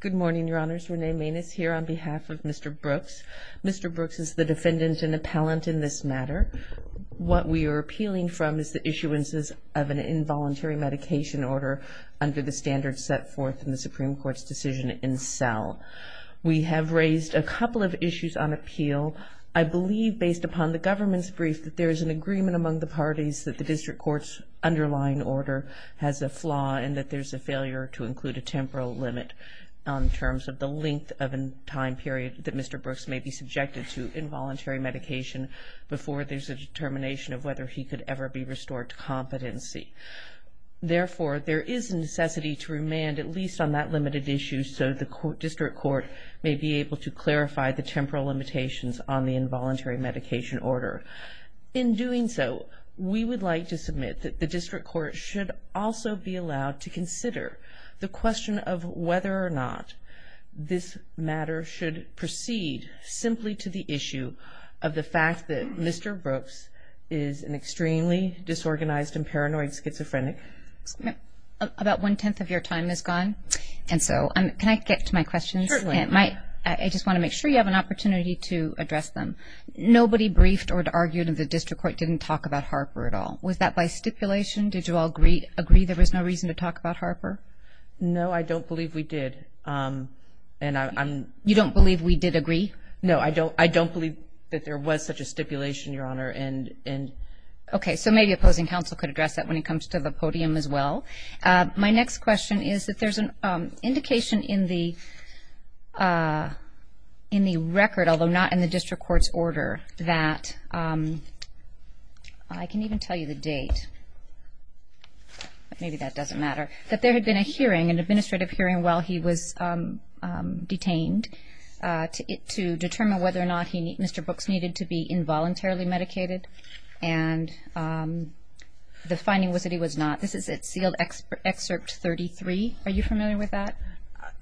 Good morning, Your Honors. Renee Maness here on behalf of Mr. Brooks. Mr. Brooks is the defendant and appellant in this matter. What we are appealing from is the issuances of an involuntary medication order under the standards set forth in the Supreme Court's decision in cell. We have raised a couple of issues on appeal. I believe, based upon the government's brief, that there is an agreement among the parties that the district court's underlying order has a flaw and that there's a failure to include a temporal limit in terms of the length of a time period that Mr. Brooks may be subjected to involuntary medication before there's a determination of whether he could ever be restored to competency. Therefore, there is a necessity to remand at least on that limited issue so the district court may be able to clarify the temporal limitations on the district court should also be allowed to consider the question of whether or not this matter should proceed simply to the issue of the fact that Mr. Brooks is an extremely disorganized and paranoid schizophrenic. About one-tenth of your time is gone, and so can I get to my questions? Certainly. I just want to make sure you have an opportunity to address them. Nobody briefed or argued in the district court didn't talk about Harper at all. Was that by stipulation? Did you all agree there was no reason to talk about Harper? No, I don't believe we did. You don't believe we did agree? No, I don't believe that there was such a stipulation, Your Honor. Okay, so maybe opposing counsel could address that when it comes to the podium as well. My next question is that there's an indication in the record, although not in the district court's order, that I can even tell you the date. Maybe that doesn't matter. That there had been an administrative hearing while he was detained to determine whether or not Mr. Brooks needed to be involuntarily medicated, and the finding was that he was not. This is at sealed excerpt 33. Are you familiar with that?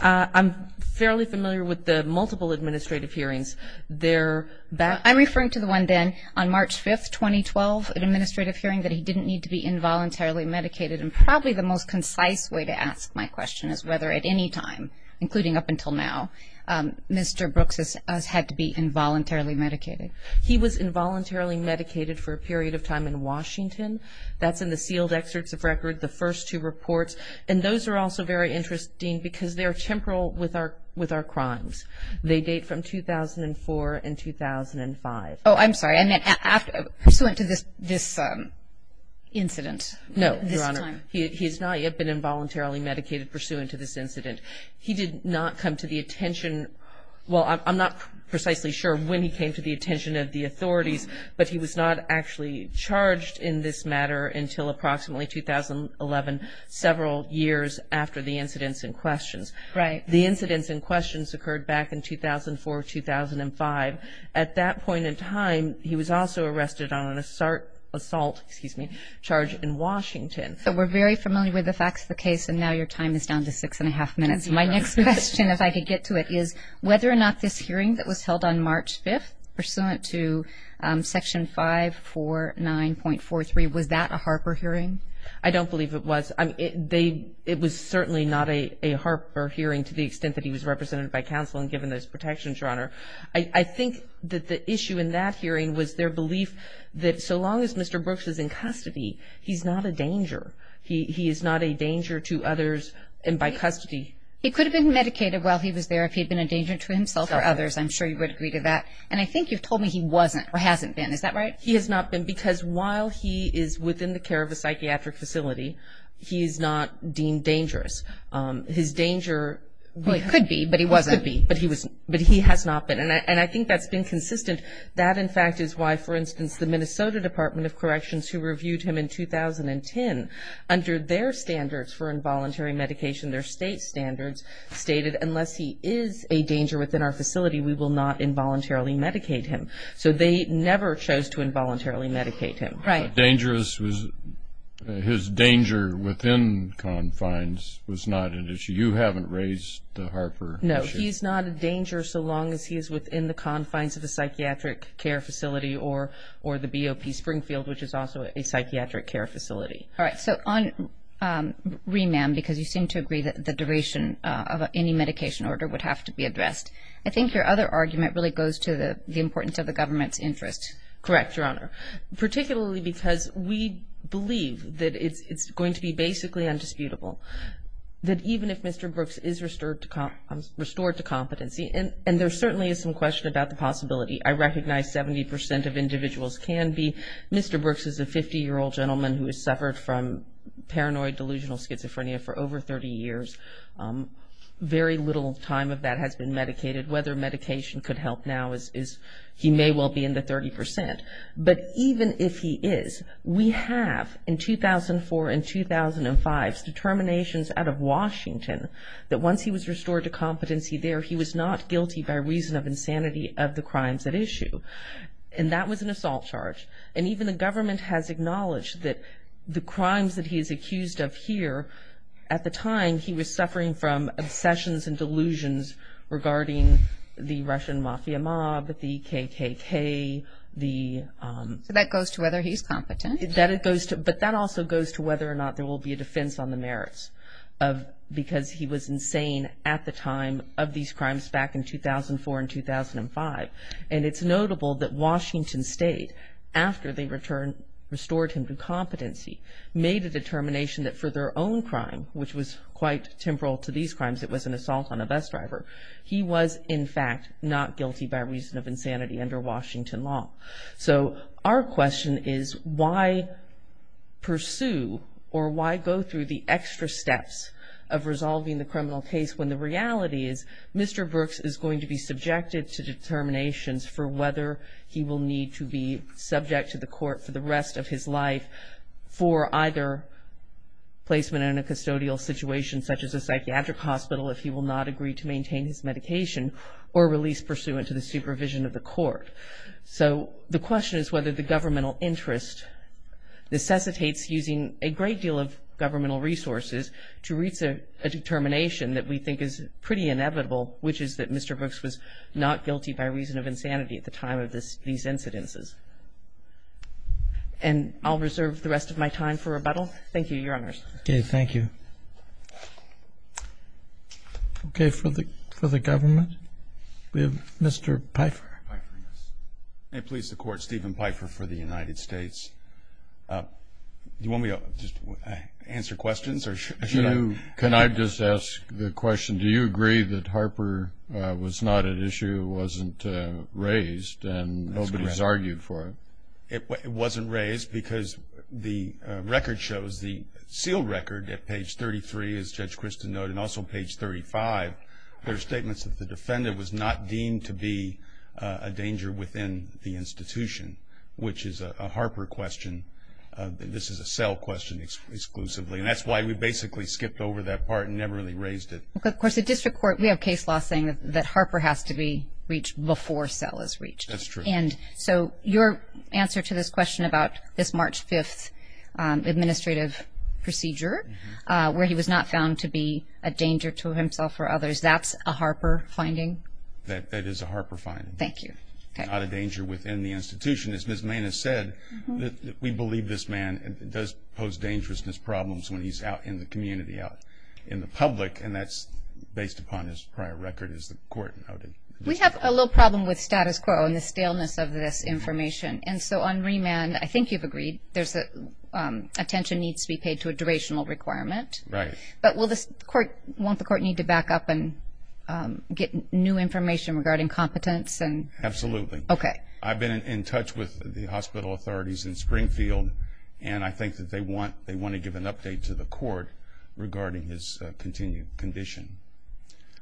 I'm fairly familiar with the multiple administrative hearings. I'm referring to the one then on March 5th, 2012, an administrative hearing that he didn't need to be involuntarily medicated. And probably the most concise way to ask my question is whether at any time, including up until now, Mr. Brooks has had to be involuntarily medicated. He was involuntarily medicated for a period of time in Washington. That's in the sealed excerpts of record, the first two reports. And those are also very interesting because they are temporal with our crimes. They date from 2004 and 2005. Oh, I'm sorry. And then pursuant to this incident. No, Your Honor. This time. He has not yet been involuntarily medicated pursuant to this incident. He did not come to the attention. Well, I'm not precisely sure when he came to the attention of the authorities, but he was not actually charged in this matter until approximately 2011, several years after the incidents in questions. Right. The incidents in questions occurred back in 2004, 2005. At that point in time, he was also arrested on an assault charge in Washington. So we're very familiar with the facts of the case, and now your time is down to six and a half minutes. My next question, if I could get to it, is whether or not this hearing that was held on March 5th pursuant to Section 549.43, was that a Harper hearing? I don't believe it was. It was certainly not a Harper hearing to the extent that he was represented by counsel and given those protections, Your Honor. I think that the issue in that hearing was their belief that so long as Mr. Brooks is in custody, he's not a danger. He is not a danger to others and by custody. He could have been medicated while he was there if he had been a danger to himself or others. I'm sure you would agree to that. And I think you've told me he wasn't or hasn't been. Is that right? He has not been because while he is within the care of a psychiatric facility, he is not deemed dangerous. His danger could be, but he wasn't. Could be, but he has not been. And I think that's been consistent. That, in fact, is why, for instance, the Minnesota Department of Corrections, who reviewed him in 2010, under their standards for involuntary medication, their state standards stated unless he is a danger within our facility, we will not involuntarily medicate him. So they never chose to involuntarily medicate him. Right. His danger within confines was not an issue. You haven't raised the Harper issue. No, he's not a danger so long as he is within the confines of a psychiatric care facility or the BOP Springfield, which is also a psychiatric care facility. All right. So on remand, because you seem to agree that the duration of any medication order would have to be addressed, I think your other argument really goes to the importance of the government's interest. Correct, Your Honor, particularly because we believe that it's going to be basically undisputable that even if Mr. Brooks is restored to competency, and there certainly is some question about the possibility. I recognize 70% of individuals can be. Mr. Brooks is a 50-year-old gentleman who has suffered from paranoid delusional schizophrenia for over 30 years. Very little time of that has been medicated. Whether medication could help now is he may well be in the 30%. But even if he is, we have in 2004 and 2005 determinations out of Washington that once he was restored to competency there, he was not guilty by reason of insanity of the crimes at issue. And that was an assault charge. And even the government has acknowledged that the crimes that he is accused of here, at the time he was suffering from obsessions and delusions regarding the Russian mafia mob, the KKK. So that goes to whether he's competent. But that also goes to whether or not there will be a defense on the merits because he was insane at the time of these crimes back in 2004 and 2005. And it's notable that Washington State, after they restored him to competency, made a determination that for their own crime, which was quite temporal to these crimes, it was an assault on a bus driver. He was, in fact, not guilty by reason of insanity under Washington law. So our question is why pursue or why go through the extra steps of resolving the criminal case when the reality is Mr. Brooks is going to be subjected to determinations for whether he will need to be subject to the court for the rest of his life for either placement in a custodial situation such as a psychiatric hospital if he will not agree to maintain his medication So the question is whether the governmental interest necessitates using a great deal of governmental resources to reach a determination that we think is pretty inevitable, which is that Mr. Brooks was not guilty by reason of insanity at the time of these incidences. And I'll reserve the rest of my time for rebuttal. Thank you, Your Honors. Okay. Thank you. Okay. For the government, we have Mr. Pfeiffer. May it please the Court, Stephen Pfeiffer for the United States. Do you want me to just answer questions or should I? Can I just ask the question, do you agree that Harper was not at issue, wasn't raised, and nobody has argued for it? It wasn't raised because the record shows, the sealed record at page 33, as Judge Christin noted, and also page 35, there are statements that the defendant was not deemed to be a danger within the institution, which is a Harper question. This is a Sell question exclusively, and that's why we basically skipped over that part and never really raised it. Of course, the district court, we have case law saying that Harper has to be reached before Sell is reached. That's true. And so your answer to this question about this March 5th administrative procedure where he was not found to be a danger to himself or others, that's a Harper finding? That is a Harper finding. Thank you. Not a danger within the institution. As Ms. Main has said, we believe this man does pose dangerousness problems when he's out in the community, out in the public, and that's based upon his prior record as the court noted. We have a little problem with status quo and the staleness of this information. And so on remand, I think you've agreed, attention needs to be paid to a durational requirement. Right. But won't the court need to back up and get new information regarding competence? Absolutely. Okay. I've been in touch with the hospital authorities in Springfield, and I think that they want to give an update to the court regarding his continued condition.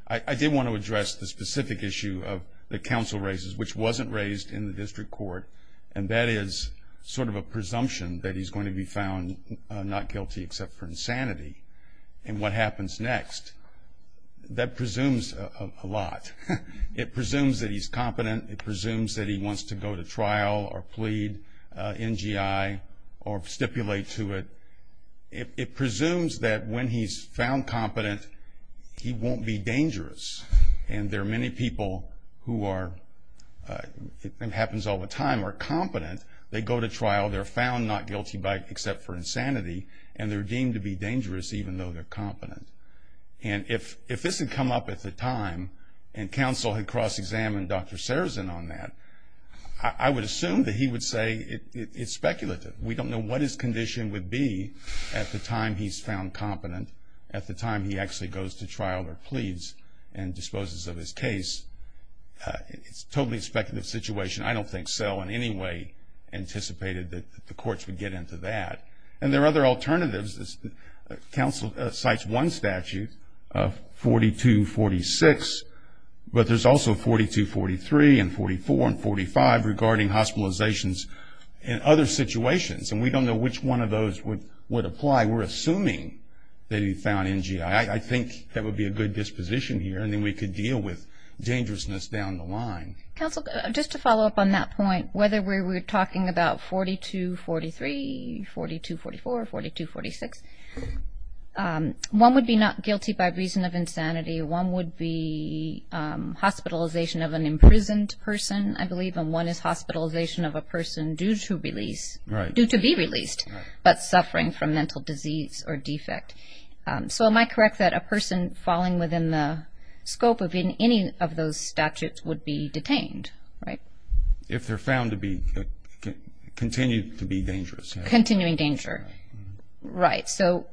I did want to address the specific issue of the counsel raises, which wasn't raised in the district court, and that is sort of a presumption that he's going to be found not guilty except for insanity. And what happens next, that presumes a lot. It presumes that he's competent. It presumes that he wants to go to trial or plead NGI or stipulate to it. It presumes that when he's found competent, he won't be dangerous. And there are many people who are, it happens all the time, are competent. They go to trial, they're found not guilty except for insanity, and they're deemed to be dangerous even though they're competent. And if this had come up at the time and counsel had cross-examined Dr. Sarazin on that, I would assume that he would say it's speculative. We don't know what his condition would be at the time he's found competent, at the time he actually goes to trial or pleads and disposes of his case. It's a totally speculative situation. I don't think SELL in any way anticipated that the courts would get into that. And there are other alternatives. Counsel cites one statute, 4246, but there's also 4243 and 44 and 45 regarding hospitalizations and other situations, and we don't know which one of those would apply. We're assuming that he found NGI. I think that would be a good disposition here, and then we could deal with dangerousness down the line. Counsel, just to follow up on that point, whether we're talking about 4243, 4244, 4246, one would be not guilty by reason of insanity. One would be hospitalization of an imprisoned person, I believe, and one is hospitalization of a person due to release, due to be released, but suffering from mental disease or defect. So am I correct that a person falling within the scope of any of those statutes would be detained, right? If they're found to be, continue to be dangerous. Continuing danger. Right. So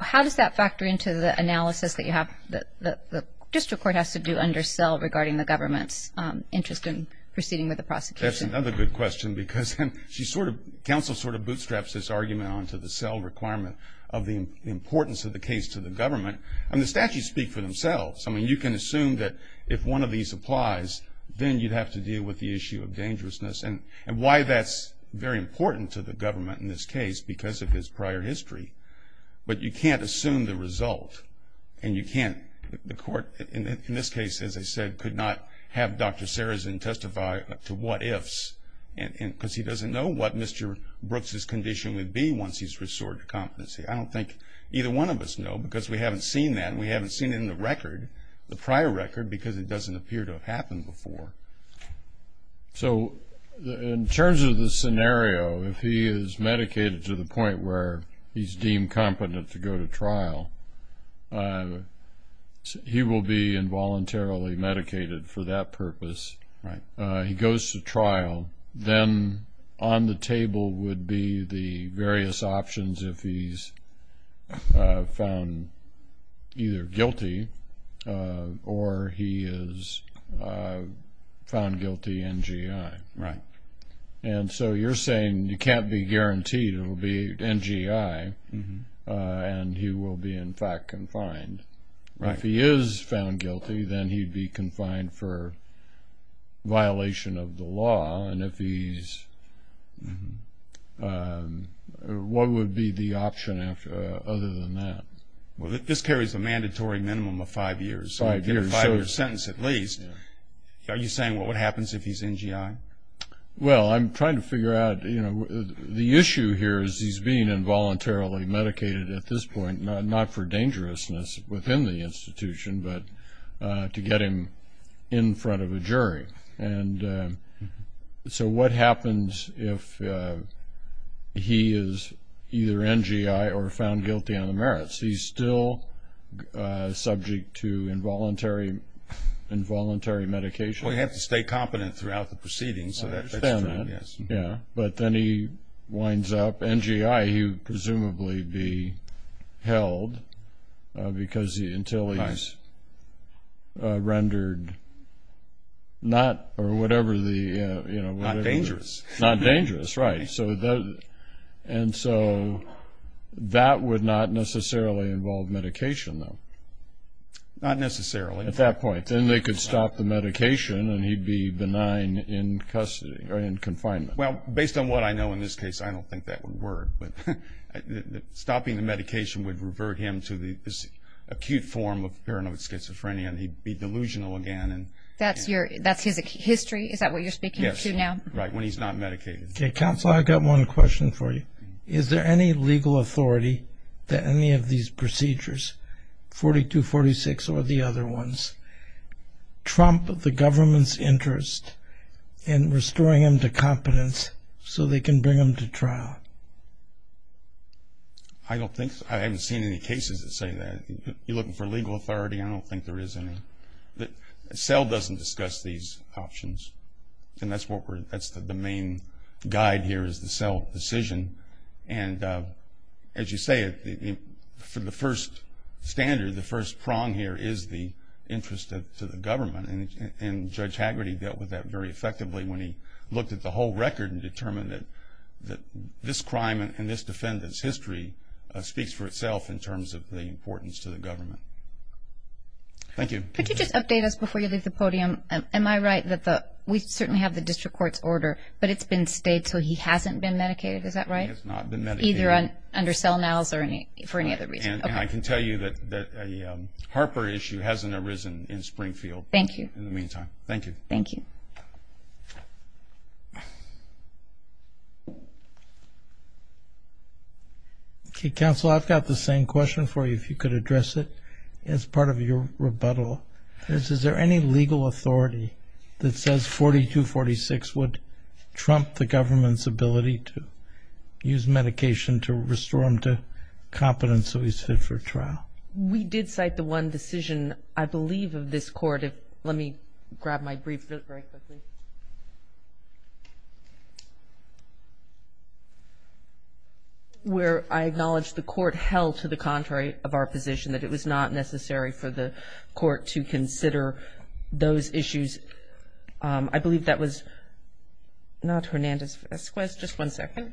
how does that factor into the analysis that you have, that the district court has to do under cell regarding the government's interest in proceeding with the prosecution? That's another good question because she sort of, counsel sort of bootstraps this argument onto the cell requirement of the importance of the case to the government, and the statutes speak for themselves. I mean, you can assume that if one of these applies, then you'd have to deal with the issue of dangerousness and why that's very important to the government in this case because of his prior history, but you can't assume the result, and you can't, the court, in this case, as I said, could not have Dr. Sarazin testify to what ifs because he doesn't know what Mr. Brooks' condition would be once he's restored to competency. I don't think either one of us know because we haven't seen that, and we haven't seen it in the record, the prior record, because it doesn't appear to have happened before. So in terms of the scenario, if he is medicated to the point where he's deemed competent to go to trial, he will be involuntarily medicated for that purpose. Right. Right. And so you're saying you can't be guaranteed it will be NGI, and he will be, in fact, confined. Right. If he is found guilty, then he'd be confined for violation of the law, and if he's, what would be the option other than that? Well, this carries a mandatory minimum of five years. Five years. Five-year sentence at least. Are you saying what happens if he's NGI? Well, I'm trying to figure out, you know, the issue here is he's being involuntarily medicated at this point, not for dangerousness within the institution, but to get him in front of a jury. And so what happens if he is either NGI or found guilty on the merits? He's still subject to involuntary medication. Well, you have to stay competent throughout the proceedings. I understand that. Yes. Yeah, but then he winds up NGI. He would presumably be held until he's rendered not or whatever the, you know. Not dangerous. Not dangerous. Right. And so that would not necessarily involve medication, though. Not necessarily. At that point. Then they could stop the medication, and he'd be benign in custody or in confinement. Well, based on what I know in this case, I don't think that would work. But stopping the medication would revert him to this acute form of paranoid schizophrenia, and he'd be delusional again. That's his history? Is that what you're speaking to now? Yes, right, when he's not medicated. Okay, counsel, I've got one question for you. Is there any legal authority that any of these procedures, 42, 46, or the other ones, trump the government's interest in restoring him to competence so they can bring him to trial? I don't think so. I haven't seen any cases that say that. You're looking for legal authority? I don't think there is any. CEL doesn't discuss these options, and that's the main guide here is the CEL decision. And as you say, for the first standard, the first prong here is the interest to the government, and Judge Haggerty dealt with that very effectively when he looked at the whole record and determined that this crime and this defendant's history speaks for itself in terms of the importance to the government. Thank you. Could you just update us before you leave the podium? Am I right that we certainly have the district court's order, but it's been stayed so he hasn't been medicated, is that right? He has not been medicated. Either under CELNALS or for any other reason. And I can tell you that a Harper issue hasn't arisen in Springfield in the meantime. Thank you. Thank you. Thank you. Okay, Counsel, I've got the same question for you if you could address it as part of your rebuttal. Is there any legal authority that says 4246 would trump the government's ability to use medication to restore him to competence so he's fit for trial? We did cite the one decision, I believe, of this court. Let me grab my brief very quickly. Where I acknowledge the court held to the contrary of our position, that it was not necessary for the court to consider those issues. I believe that was not Hernandez-Esquez. Just one second.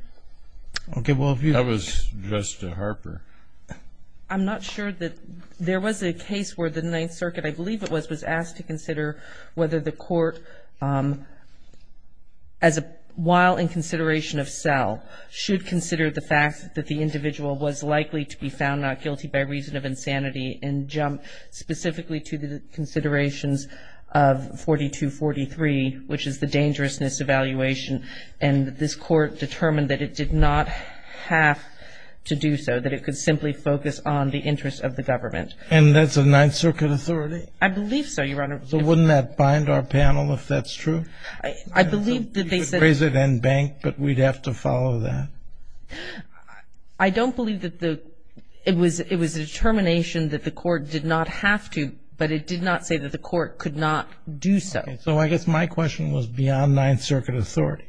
Okay, well, that was just a Harper. I'm not sure that there was a case where the Ninth Circuit, I believe it was, was asked to consider whether the court, while in consideration of CELN, should consider the fact that the individual was likely to be found not guilty by reason of insanity and jump specifically to the considerations of 4243, which is the dangerousness evaluation. And this court determined that it did not have to do so, that it could simply focus on the interests of the government. And that's a Ninth Circuit authority? I believe so, Your Honor. So wouldn't that bind our panel if that's true? I believe that they said. You could raise it and bank, but we'd have to follow that. I don't believe that it was a determination that the court did not have to, but it did not say that the court could not do so. So I guess my question was beyond Ninth Circuit authority.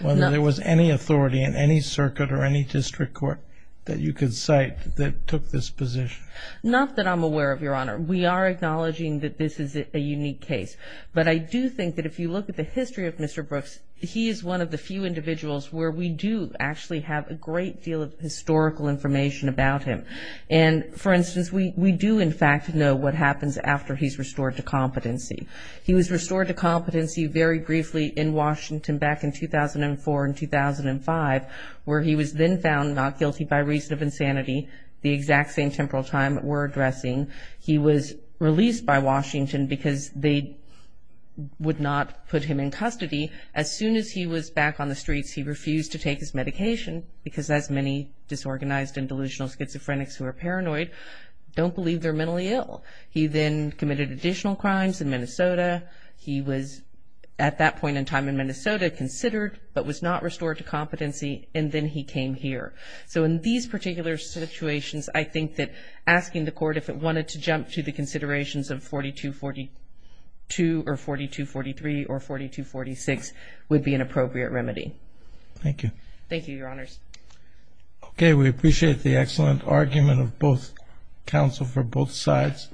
Whether there was any authority in any circuit or any district court that you could cite that took this position. Not that I'm aware of, Your Honor. We are acknowledging that this is a unique case. But I do think that if you look at the history of Mr. Brooks, he is one of the few individuals where we do actually have a great deal of historical information about him. And, for instance, we do, in fact, know what happens after he's restored to competency. He was restored to competency very briefly in Washington back in 2004 and 2005, where he was then found not guilty by reason of insanity, the exact same temporal time we're addressing. He was released by Washington because they would not put him in custody. As soon as he was back on the streets, he refused to take his medication, because as many disorganized and delusional schizophrenics who are paranoid don't believe they're mentally ill. He then committed additional crimes in Minnesota. He was at that point in time in Minnesota considered, but was not restored to competency, and then he came here. So in these particular situations, I think that asking the court if it wanted to jump to the considerations of 4242 or 4243 or 4246 would be an appropriate remedy. Thank you. Thank you, Your Honors. Okay, we appreciate the excellent argument of both counsel for both sides.